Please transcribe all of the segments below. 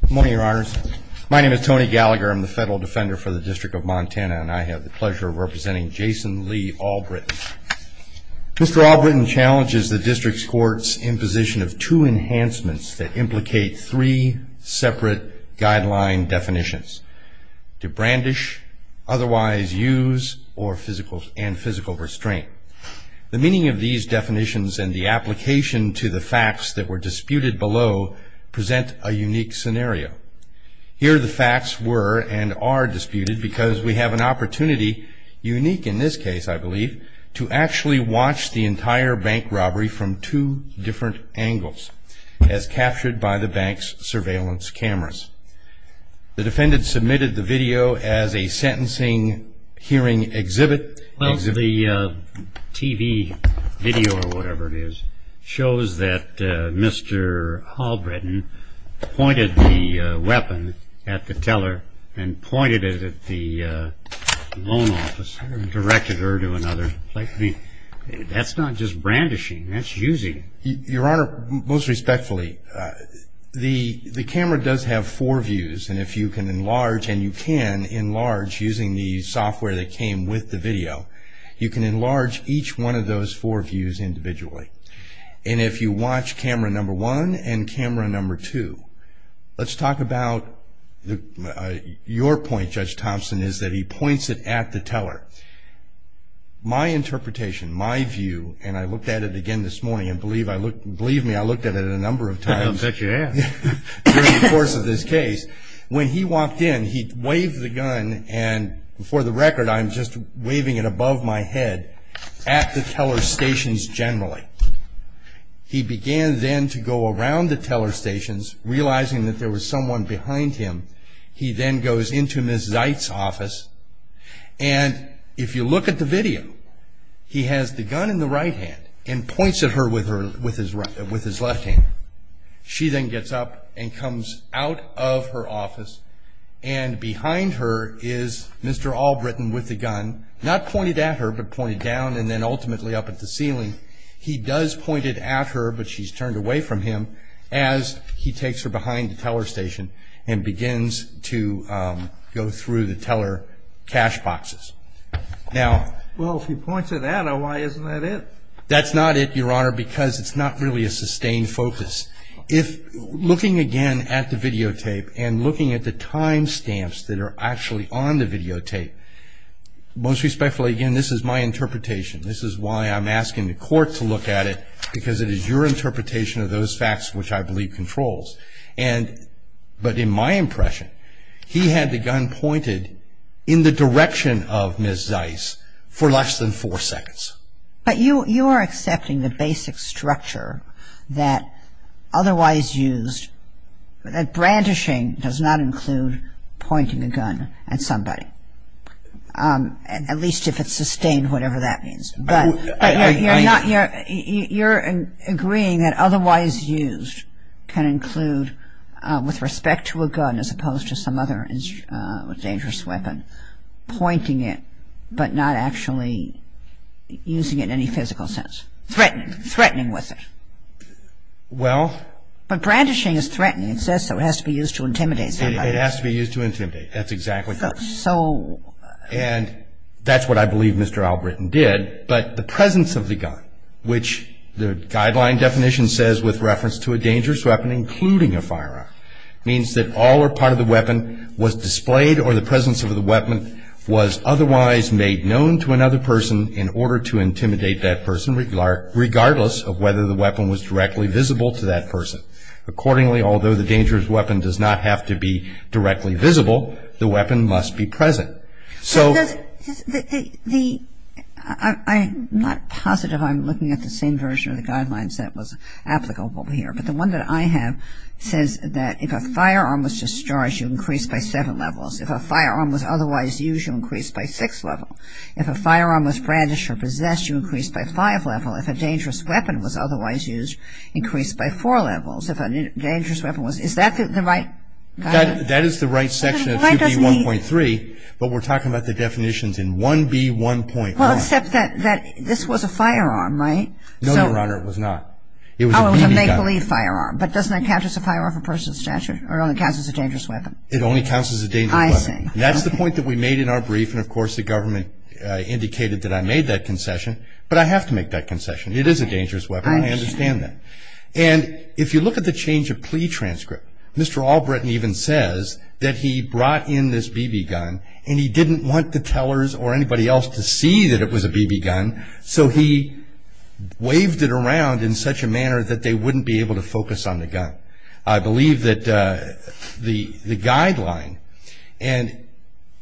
Good morning, your honors. My name is Tony Gallagher. I'm the federal defender for the District of Montana, and I have the pleasure of representing Jason Lee Albritton. Mr. Albritton challenges the district's courts in position of two enhancements that implicate three separate guideline definitions, to brandish, otherwise use, and physical restraint. The meaning of these definitions and the application to the facts that were disputed below present a unique scenario. Here the facts were and are disputed because we have an opportunity, unique in this case I believe, to actually watch the entire bank robbery from two different angles, as captured by the bank's surveillance cameras. The defendant submitted the video as a sentencing hearing exhibit. Well, the TV video or whatever it is shows that Mr. Albritton pointed the weapon at the teller and pointed it at the loan office and directed her to another place. I mean, that's not just brandishing, that's using. Your honor, most respectfully, the camera does have four views, and if you can enlarge, and you can enlarge using the software that came with the video, you can enlarge each one of those four views individually. And if you watch camera number one and camera number two, let's talk about your point, Judge Thompson, is that he points it at the teller. My interpretation, my view, and I looked at it again this morning, and believe me, I looked at it a number of times. I don't bet you have. During the course of this case, when he walked in, he waved the gun, and for the record, I'm just waving it above my head, at the teller's stations generally. He began then to go around the teller's stations, realizing that there was someone behind him. He then goes into Ms. Zeit's office, and if you look at the video, he has the gun in the right hand, and points at her with his left hand. She then gets up and comes out of her office, and behind her is Mr. Albritton with the gun, not pointed at her, but pointed down and then ultimately up at the ceiling. He does point it at her, but she's turned away from him as he takes her behind the teller's station and begins to go through the teller cash boxes. Now... Well, if he points it at her, why isn't that it? That's not it, Your Honor, because it's not really a sustained focus. If looking again at the videotape and looking at the time stamps that are actually on the videotape, most respectfully, again, this is my interpretation. This is why I'm asking the court to look at it, because it is your interpretation of those facts which I believe controls. But in my impression, he had the gun pointed in the direction of Ms. Zeit's for less than four seconds. But you are accepting the basic structure that otherwise used, that brandishing does not include pointing a gun at somebody, at least if it's sustained, whatever that means. But you're agreeing that otherwise used can include, with respect to a gun, as opposed to some other dangerous weapon, pointing it, but not actually using it in any physical sense, threatening, threatening with it. Well... But brandishing is threatening. It says so. It has to be used to intimidate somebody. It has to be used to intimidate. That's exactly right. So... And that's what I believe Mr. Albritton did. But the presence of the gun, which the guideline definition says with reference to a dangerous weapon, including a firearm, means that all or part of the weapon was displayed or the presence of the weapon was otherwise made known to another person in order to intimidate that person, regardless of whether the weapon was directly visible to that person. Accordingly, although the dangerous weapon does not have to be directly visible, the weapon must be present. So... The... I'm not positive I'm looking at the same version of the guidelines that was applicable here. But the one that I have says that if a firearm was discharged, you increased by seven levels. If a firearm was otherwise used, you increased by six levels. If a firearm was brandished or possessed, you increased by five levels. If a dangerous weapon was otherwise used, increased by four levels. If a dangerous weapon was... Is that the right guideline? That is the right section of 2B1.3, but we're talking about the definitions in 1B1.1. Well, except that this was a firearm, right? No, Your Honor, it was not. It was a BB gun. Oh, it was a make-believe firearm. But doesn't that count as a firearm for personal statute or only counts as a dangerous weapon? It only counts as a dangerous weapon. I see. That's the point that we made in our brief. And, of course, the government indicated that I made that concession. But I have to make that concession. It is a dangerous weapon. I understand that. And if you look at the change of plea transcript, Mr. Albritton even says that he brought in this BB gun and he didn't want the tellers or anybody else to see that it was a BB gun, so he waved it around in such a manner that they wouldn't be able to focus on the gun. I believe that the guideline, and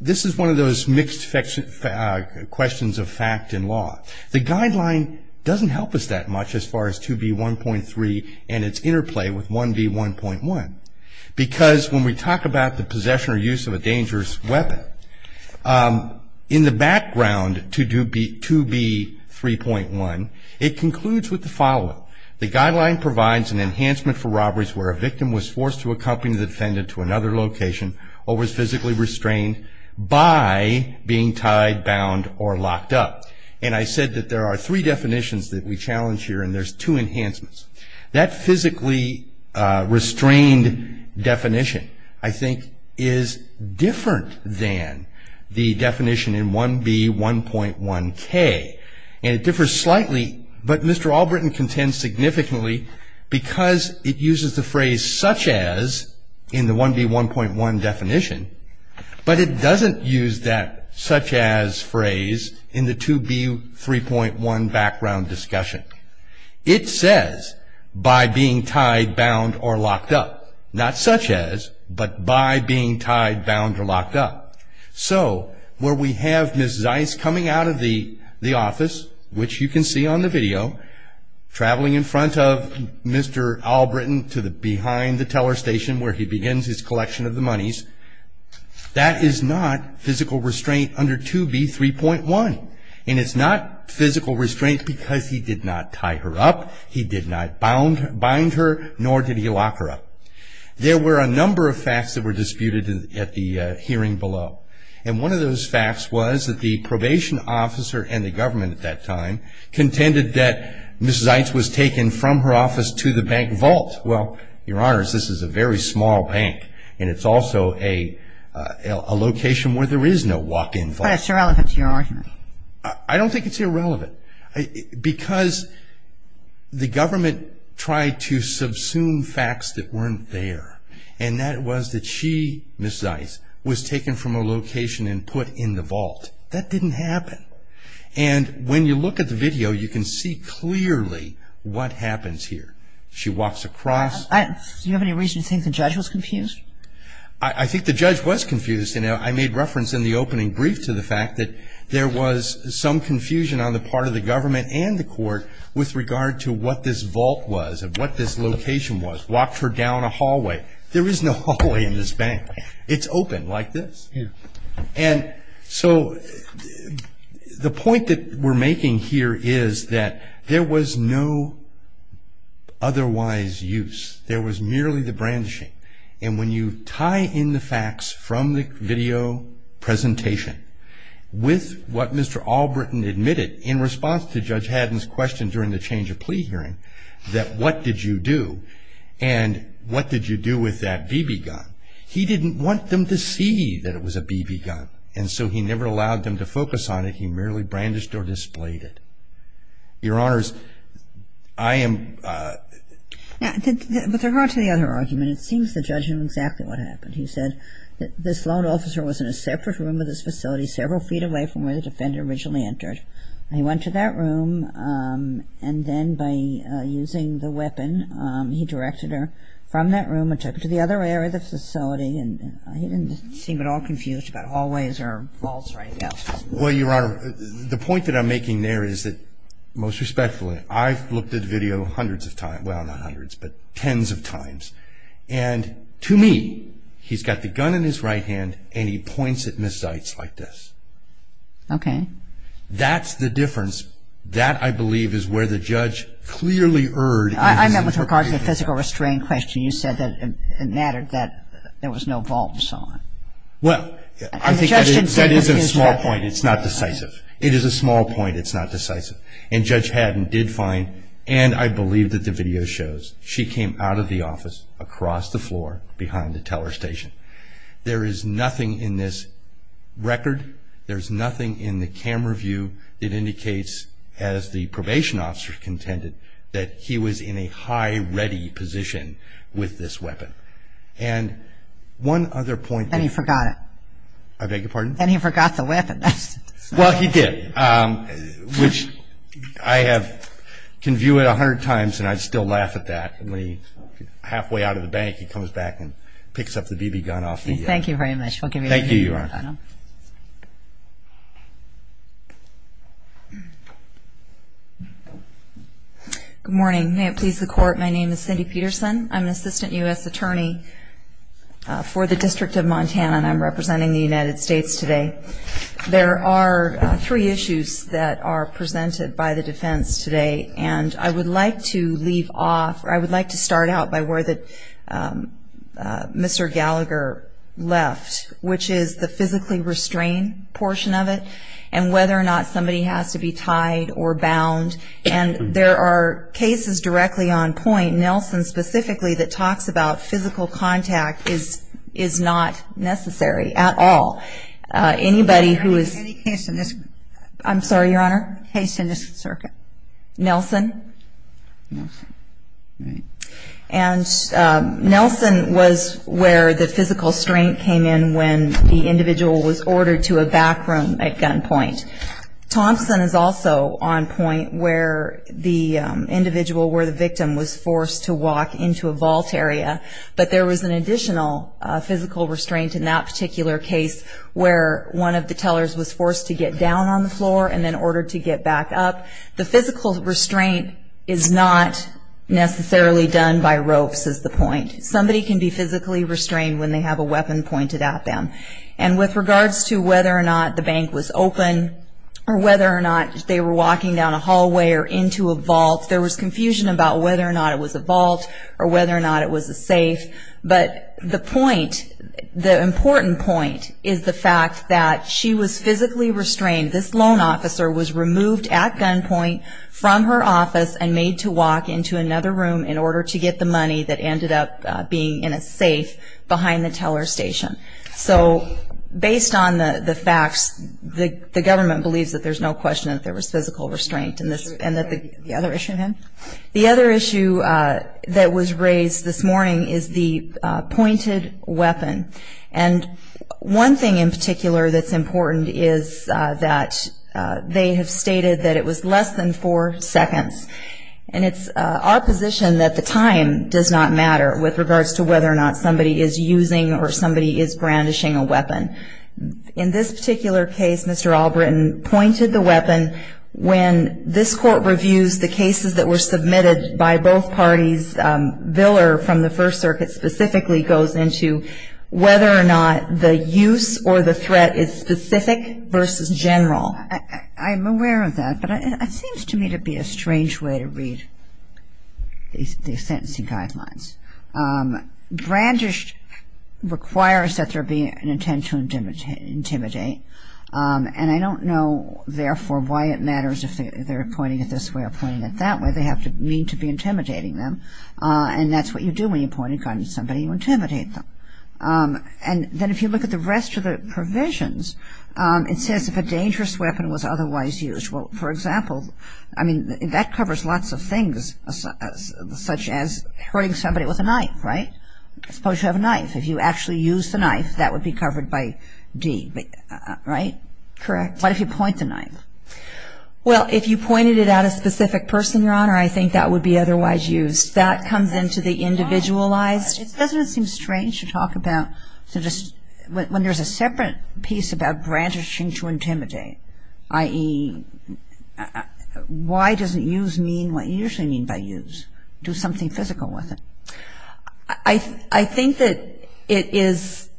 this is one of those mixed questions of fact and law, the guideline doesn't help us that much as far as 2B1.3 and its interplay with 1B1.1 because when we talk about the possession or use of a dangerous weapon, in the background to 2B3.1, it concludes with the following. The guideline provides an enhancement for robberies where a victim was forced to accompany the defendant to another location or was physically restrained by being tied, bound, or locked up. And I said that there are three definitions that we challenge here, and there's two enhancements. That physically restrained definition, I think, is different than the definition in 1B1.1k. And it differs slightly, but Mr. Allbritton contends significantly because it uses the phrase such as in the 1B1.1 definition, but it doesn't use that such as phrase in the 2B3.1 background discussion. It says by being tied, bound, or locked up. Not such as, but by being tied, bound, or locked up. So where we have Ms. Zeiss coming out of the office, which you can see on the video, traveling in front of Mr. Allbritton to behind the teller station where he begins his collection of the monies, that is not physical restraint under 2B3.1. And it's not physical restraint because he did not tie her up, he did not bind her, nor did he lock her up. There were a number of facts that were disputed at the hearing below. And one of those facts was that the probation officer and the government at that time contended that Ms. Zeiss was taken from her office to the bank vault. Well, Your Honors, this is a very small bank, and it's also a location where there is no walk-in vault. But it's irrelevant to your argument. I don't think it's irrelevant. Because the government tried to subsume facts that weren't there, and that was that she, Ms. Zeiss, was taken from her location and put in the vault. That didn't happen. And when you look at the video, you can see clearly what happens here. She walks across. Do you have any reason to think the judge was confused? I think the judge was confused. And I made reference in the opening brief to the fact that there was some confusion on the part of the government and the court with regard to what this vault was and what this location was. Walked her down a hallway. There is no hallway in this bank. It's open like this. And so the point that we're making here is that there was no otherwise use. There was merely the brandishing. And when you tie in the facts from the video presentation with what Mr. Allbritton admitted in response to Judge Haddon's question during the change of plea hearing, that what did you do, and what did you do with that BB gun, he didn't want them to see that it was a BB gun. And so he never allowed them to focus on it. He merely brandished or displayed it. Your Honors, I am ‑‑ With regard to the other argument, it seems the judge knew exactly what happened. He said that this lone officer was in a separate room of this facility several feet away from where the defendant originally entered. And he went to that room, and then by using the weapon, he directed her from that room and took her to the other area of the facility. And he didn't seem at all confused about hallways or vaults right now. Well, Your Honor, the point that I'm making there is that, most respectfully, I've looked at the video hundreds of times, well, not hundreds, but tens of times. And to me, he's got the gun in his right hand, and he points at Ms. Zeitz like this. Okay. That's the difference. That, I believe, is where the judge clearly erred. I meant with regard to the physical restraint question. You said that it mattered that there was no vault and so on. Well, I think that is a small point. It's not decisive. It is a small point. It's not decisive. And Judge Haddon did find, and I believe that the video shows, she came out of the office across the floor behind the teller station. There is nothing in this record, there's nothing in the camera view that indicates, as the probation officer contended, that he was in a high ready position with this weapon. And one other point. And he forgot it. I beg your pardon? And he forgot the weapon. Well, he did, which I can view it a hundred times, and I'd still laugh at that. When he's halfway out of the bank, he comes back and picks up the BB gun off the desk. Thank you very much. Thank you, Your Honor. Good morning. May it please the Court, my name is Cindy Peterson. I'm an assistant U.S. attorney for the District of Montana, and I'm representing the United States today. There are three issues that are presented by the defense today, and I would like to leave off, or I would like to start out by where Mr. Gallagher left, which is the physically restrained portion of it, and whether or not somebody has to be tied or bound. And there are cases directly on point, Nelson specifically, that talks about physical contact is not necessary at all. Anybody who is... Any case in this... I'm sorry, Your Honor? Case in this circuit. Nelson? Nelson, right. And Nelson was where the physical strain came in when the individual was ordered to a back room at gunpoint. Thompson is also on point where the individual where the victim was forced to walk into a vault area, but there was an additional physical restraint in that particular case where one of the tellers was forced to get down on the floor and then ordered to get back up. The physical restraint is not necessarily done by ropes is the point. Somebody can be physically restrained when they have a weapon pointed at them. And with regards to whether or not the bank was open or whether or not they were walking down a hallway or into a vault, there was confusion about whether or not it was a vault or whether or not it was a safe. But the point, the important point is the fact that she was physically restrained. This loan officer was removed at gunpoint from her office and made to walk into another room in order to get the money that ended up being in a safe behind the teller's station. So based on the facts, the government believes that there's no question that there was physical restraint and that the other issue that was raised this morning is the pointed weapon. And one thing in particular that's important is that they have stated that it was less than four seconds. And it's our position that the time does not matter with regards to whether or not somebody is using or somebody is brandishing a weapon. In this particular case, Mr. Allbritton pointed the weapon when this Court reviews the cases that were submitted by both parties. Viller from the First Circuit specifically goes into whether or not the use or the threat is specific versus general. I'm aware of that, but it seems to me to be a strange way to read these sentencing guidelines. Brandish requires that there be an intent to intimidate. And I don't know, therefore, why it matters if they're pointing it this way or pointing it that way. They have to mean to be intimidating them. And that's what you do when you point a gun at somebody, you intimidate them. And then if you look at the rest of the provisions, it says if a dangerous weapon was otherwise used. Well, for example, I mean, that covers lots of things, such as hurting somebody with a knife, right? Suppose you have a knife. If you actually use the knife, that would be covered by D, right? Correct. What if you point the knife? Well, if you pointed it at a specific person, Your Honor, I think that would be otherwise used. That comes into the individualized. Doesn't it seem strange to talk about when there's a separate piece about brandishing to intimidate, i.e., why doesn't use mean what you usually mean by use, do something physical with it? I think that it is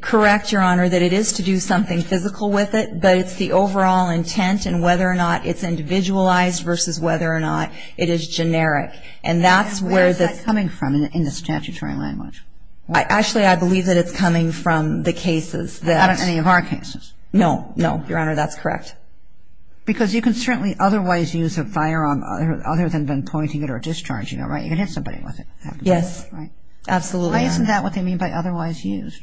correct, Your Honor, that it is to do something physical with it. But it's the overall intent and whether or not it's individualized versus whether or not it is generic. And that's where the ---- And where is that coming from in the statutory language? Actually, I believe that it's coming from the cases that ---- Out of any of our cases. No, no, Your Honor, that's correct. Because you can certainly otherwise use a firearm other than then pointing it or discharging it, right? You can hit somebody with it. Yes, absolutely. Why isn't that what they mean by otherwise used?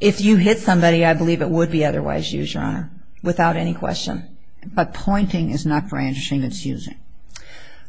If you hit somebody, I believe it would be otherwise used, Your Honor, without any question. But pointing is not brandishing, it's using.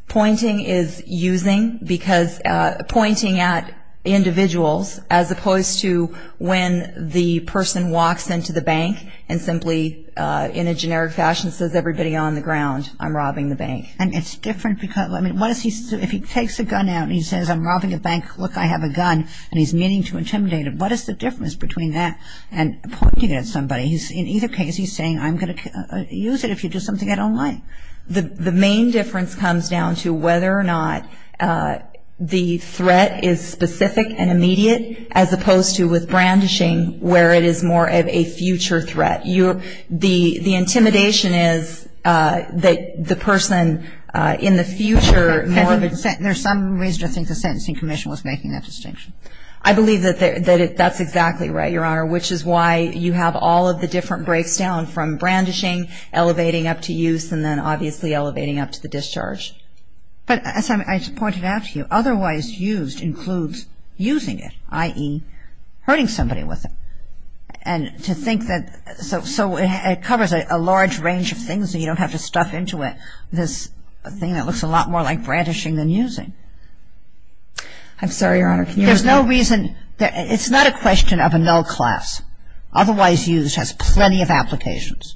Pointing is using because pointing at individuals as opposed to when the person walks into the bank and simply in a generic fashion says, everybody on the ground, I'm robbing the bank. And it's different because, I mean, what is he ---- If he takes a gun out and he says, I'm robbing a bank, look, I have a gun, and he's meaning to intimidate him, what is the difference between that and pointing it at somebody? In either case, he's saying, I'm going to use it if you do something I don't like. The main difference comes down to whether or not the threat is specific and immediate as opposed to with brandishing where it is more of a future threat. The intimidation is that the person in the future more of a ---- There's some reason to think the Sentencing Commission was making that distinction. I believe that that's exactly right, Your Honor, which is why you have all of the different breaks down from brandishing, elevating up to use, and then obviously elevating up to the discharge. But as I pointed out to you, otherwise used includes using it, i.e., hurting somebody with it. And to think that so it covers a large range of things so you don't have to stuff into it this thing that looks a lot more like brandishing than using. I'm sorry, Your Honor. There's no reason. It's not a question of a null class. Otherwise used has plenty of applications,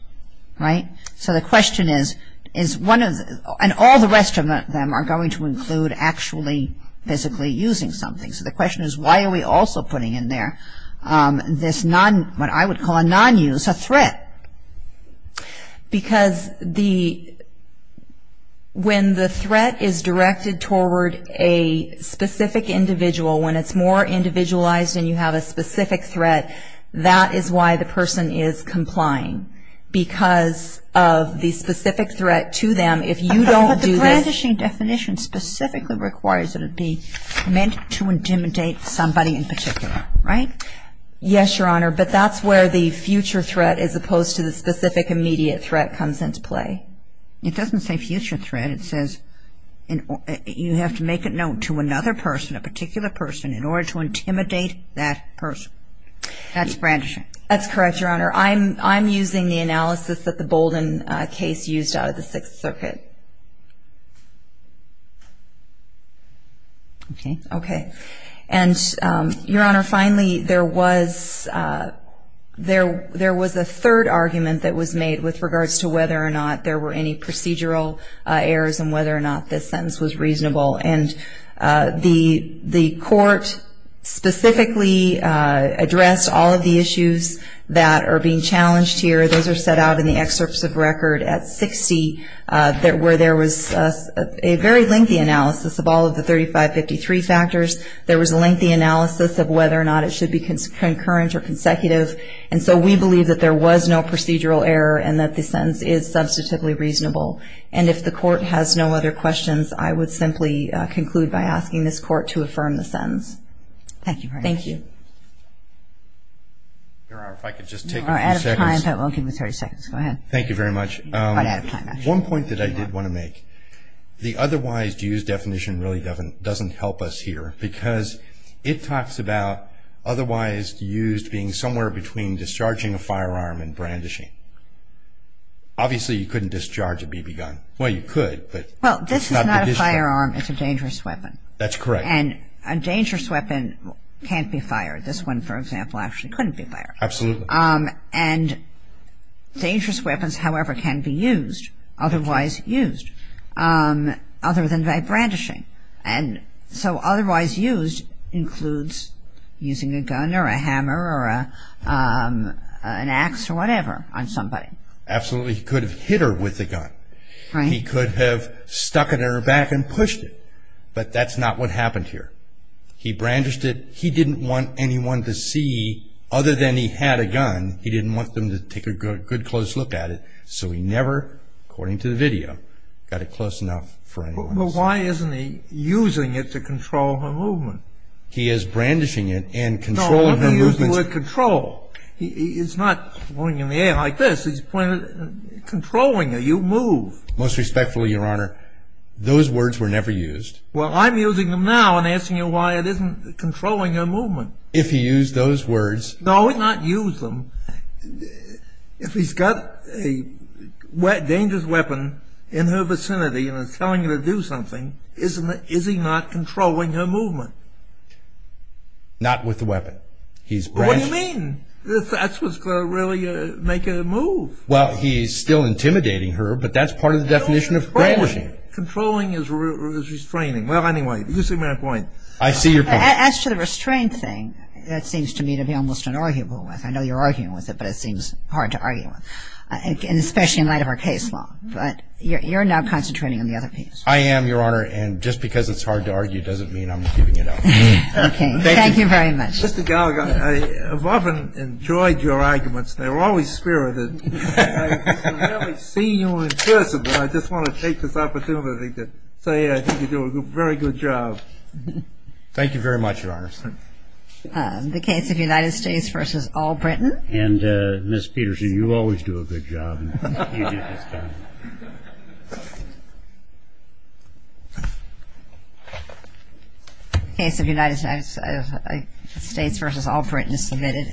right? So the question is, is one of the ---- and all the rest of them are going to include actually physically using something. So the question is, why are we also putting in there this non, what I would call a non-use, a threat? Because when the threat is directed toward a specific individual, when it's more individualized and you have a specific threat, that is why the person is complying because of the specific threat to them. If you don't do this ---- But the brandishing definition specifically requires it to be meant to intimidate somebody in particular, right? Yes, Your Honor. But that's where the future threat as opposed to the specific immediate threat comes into play. It doesn't say future threat. It says you have to make a note to another person, a particular person, in order to intimidate that person. That's brandishing. That's correct, Your Honor. I'm using the analysis that the Bolden case used out of the Sixth Circuit. Okay. Okay. And, Your Honor, finally, there was a third argument that was made with regards to whether or not there were any procedural errors and whether or not this sentence was reasonable. And the court specifically addressed all of the issues that are being challenged here. Those are set out in the excerpts of record at 60 where there was a very lengthy analysis of all of the 3553 factors. There was a lengthy analysis of whether or not it should be concurrent or consecutive. And so we believe that there was no procedural error and that the sentence is substantively reasonable. And if the court has no other questions, I would simply conclude by asking this court to affirm the sentence. Thank you, Your Honor. Thank you. Your Honor, if I could just take a few seconds. We're out of time, but we'll give you 30 seconds. Go ahead. Thank you very much. One point that I did want to make. The otherwise used definition really doesn't help us here because it talks about otherwise used being somewhere between discharging a firearm and brandishing. Obviously, you couldn't discharge a BB gun. Well, you could, but it's not the discharge. Well, this is not a firearm. It's a dangerous weapon. That's correct. And a dangerous weapon can't be fired. This one, for example, actually couldn't be fired. Absolutely. And dangerous weapons, however, can be used, otherwise used, other than by brandishing. And so otherwise used includes using a gun or a hammer or an axe or whatever on somebody. Absolutely. He could have hit her with the gun. Right. He could have stuck it in her back and pushed it, but that's not what happened here. He brandished it. He didn't want anyone to see, other than he had a gun, he didn't want them to take a good close look at it, so he never, according to the video, got it close enough for anyone to see. But why isn't he using it to control her movement? He is brandishing it and controlling her movements. No, I'm using the word control. It's not going in the air like this. He's controlling her. You move. Most respectfully, Your Honor, those words were never used. Well, I'm using them now and asking you why it isn't controlling her movement. If he used those words. No, he's not used them. If he's got a dangerous weapon in her vicinity and is telling her to do something, is he not controlling her movement? Not with the weapon. What do you mean? That's what's going to really make her move. Well, he's still intimidating her, but that's part of the definition of brandishing. Controlling is restraining. Well, anyway, you see my point. I see your point. As to the restraint thing, that seems to me to be almost inarguable with. I know you're arguing with it, but it seems hard to argue with, especially in light of our case law. But you're now concentrating on the other piece. I am, Your Honor, and just because it's hard to argue doesn't mean I'm keeping it up. Okay. Thank you very much. Mr. Gallagher, I have often enjoyed your arguments. They're always spirited. I rarely see you in person, but I just want to take this opportunity to say I think you do a very good job. Thank you very much, Your Honor. The case of United States v. All-Britain. And, Ms. Peterson, you always do a good job. You do just fine. The case of United States v. All-Britain is submitted.